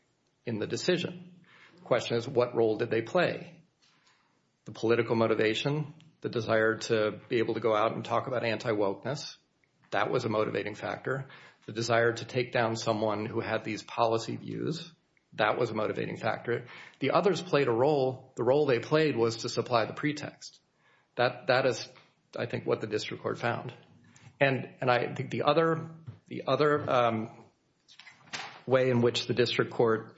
in the decision. The question is, what role did they play? The political motivation, the desire to be able to go out and talk about anti-wokeness, that was a motivating factor. The desire to take down someone who had these policy views, that was a motivating factor. The others played a role. The role they played was to supply the pretext. That is, I think, what the district court found. And I think the other way in which the district court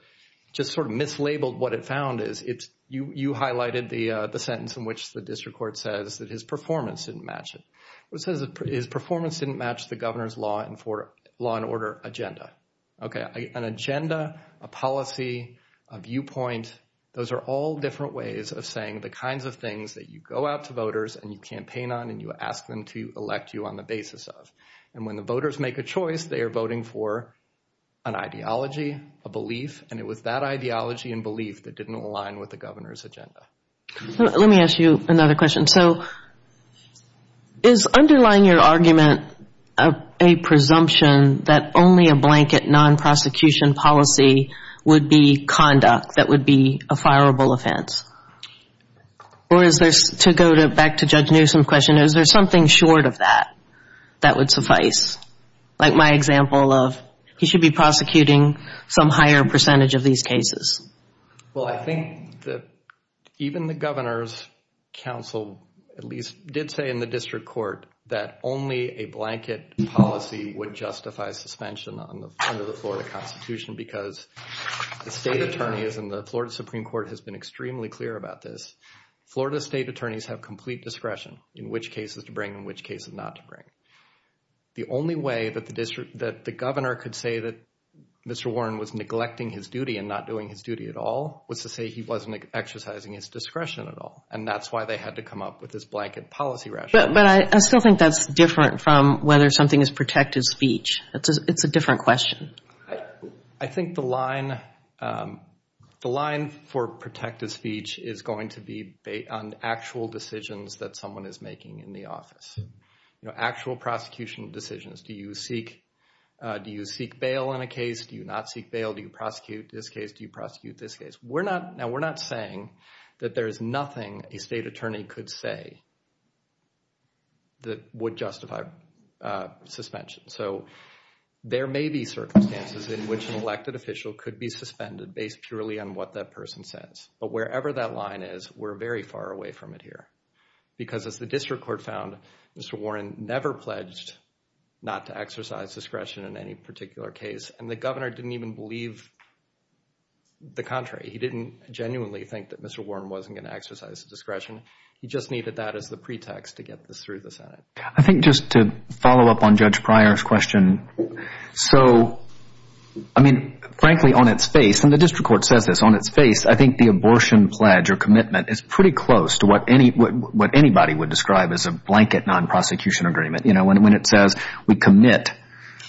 just sort of mislabeled what it found is, you highlighted the sentence in which the district court says that his performance didn't match it. It says his performance didn't match the governor's law and order agenda. Okay, an agenda, a policy, a viewpoint, those are all different ways of saying the kinds of things that you go out to voters and you campaign on and you ask them to elect you on the basis of. And when the voters make a choice, they are voting for an ideology, a belief, and it was that ideology and belief that didn't align with the governor's agenda. Let me ask you another question. So is underlying your argument a presumption that only a blanket non-prosecution policy would be conduct, that would be a fireable offense? Or is there, to go back to Judge Newsom's question, is there something short of that that would suffice? Like my example of he should be prosecuting some higher percentage of these cases. Well, I think that even the governor's counsel at least did say in the district court that only a blanket policy would justify suspension under the Florida Constitution because the state attorneys and the Florida Supreme Court has been extremely clear about this. Florida state attorneys have complete discretion in which cases to bring and which cases not to bring. The only way that the governor could say that Mr. Warren was neglecting his duty and not doing his duty at all was to say he wasn't exercising his discretion at all. And that's why they had to come up with this blanket policy rationale. But I still think that's different from whether something is protected speech. It's a different question. I think the line for protected speech is going to be based on actual decisions that someone is making in the office. You know, actual prosecution decisions. Do you seek bail in a case? Do you not seek bail? Do you prosecute this case? Do you prosecute this case? Now, we're not saying that there is nothing a state attorney could say that would justify suspension. So, there may be circumstances in which an elected official could be suspended based purely on what that person says. But wherever that line is, we're very far away from it here. Because as the district court found, Mr. Warren never pledged not to exercise discretion in any particular case. And the governor didn't even believe the contrary. He didn't genuinely think that Mr. Warren wasn't going to exercise discretion. He just needed that as the pretext to get this through the Senate. I think just to follow up on Judge Pryor's question. So, I mean, frankly on its face, and the district court says this on its face, I think the abortion pledge or commitment is pretty close to what anybody would describe as a blanket non-prosecution agreement. You know, when it says we commit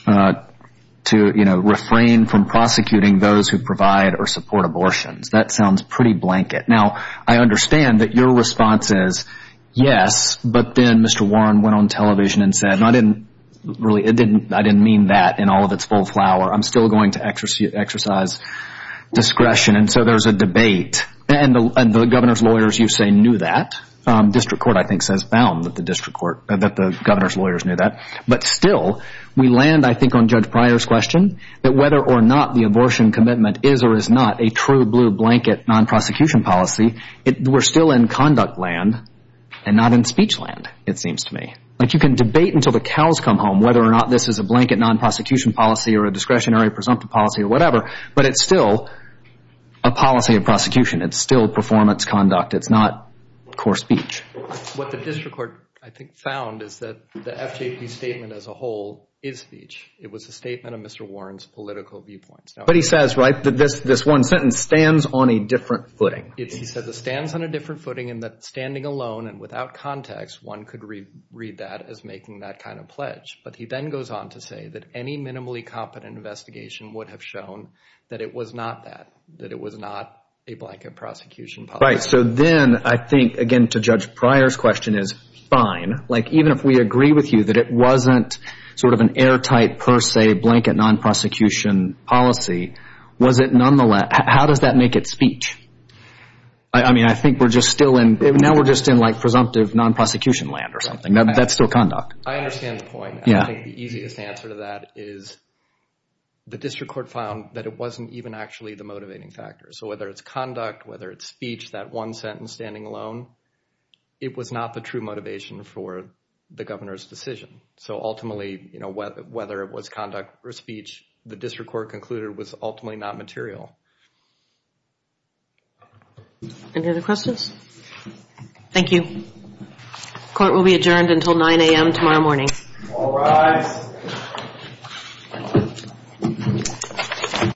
to, you know, refrain from prosecuting those who provide or support abortions. That sounds pretty blanket. Now, I understand that your response is yes, but then Mr. Warren went on television and said, I didn't really, I didn't mean that in all of its full flower. I'm still going to exercise discretion. And so, there's a debate. And the governor's lawyers, you say, knew that. District court, I think, says found that the district court, that the governor's lawyers knew that. But still, we land, I think, on Judge Pryor's question. That whether or not the abortion commitment is or is not a true blue blanket non-prosecution policy, we're still in conduct land and not in speech land, it seems to me. Like, you can debate until the cows come home whether or not this is a blanket non-prosecution policy or a discretionary presumptive policy or whatever, but it's still a policy of prosecution. It's still performance conduct. It's not core speech. What the district court, I think, found is that the FJP statement as a whole is speech. It was a statement of Mr. Warren's political viewpoints. But he says, right, that this one sentence stands on a different footing. He says it stands on a different footing in that standing alone and without context, one could read that as making that kind of pledge. But he then goes on to say that any minimally competent investigation would have shown that it was not that, that it was not a blanket prosecution policy. Right. So then, I think, again, to Judge Pryor's question is fine. Like, even if we agree with you that it wasn't sort of an airtight per se blanket non-prosecution policy, was it nonetheless, how does that make it speech? I mean, I think we're just still in, now we're just in like presumptive non-prosecution land or something. That's still conduct. I understand the point. Yeah. I think the easiest answer to that is the district court found that it wasn't even actually the motivating factor. So whether it's conduct, whether it's speech, that one sentence standing alone, it was not the true motivation for the governor's decision. So ultimately, you know, whether it was conduct or speech, the district court concluded was ultimately not material. Any other questions? Thank you. Court will be adjourned until 9 a.m. tomorrow morning. All rise.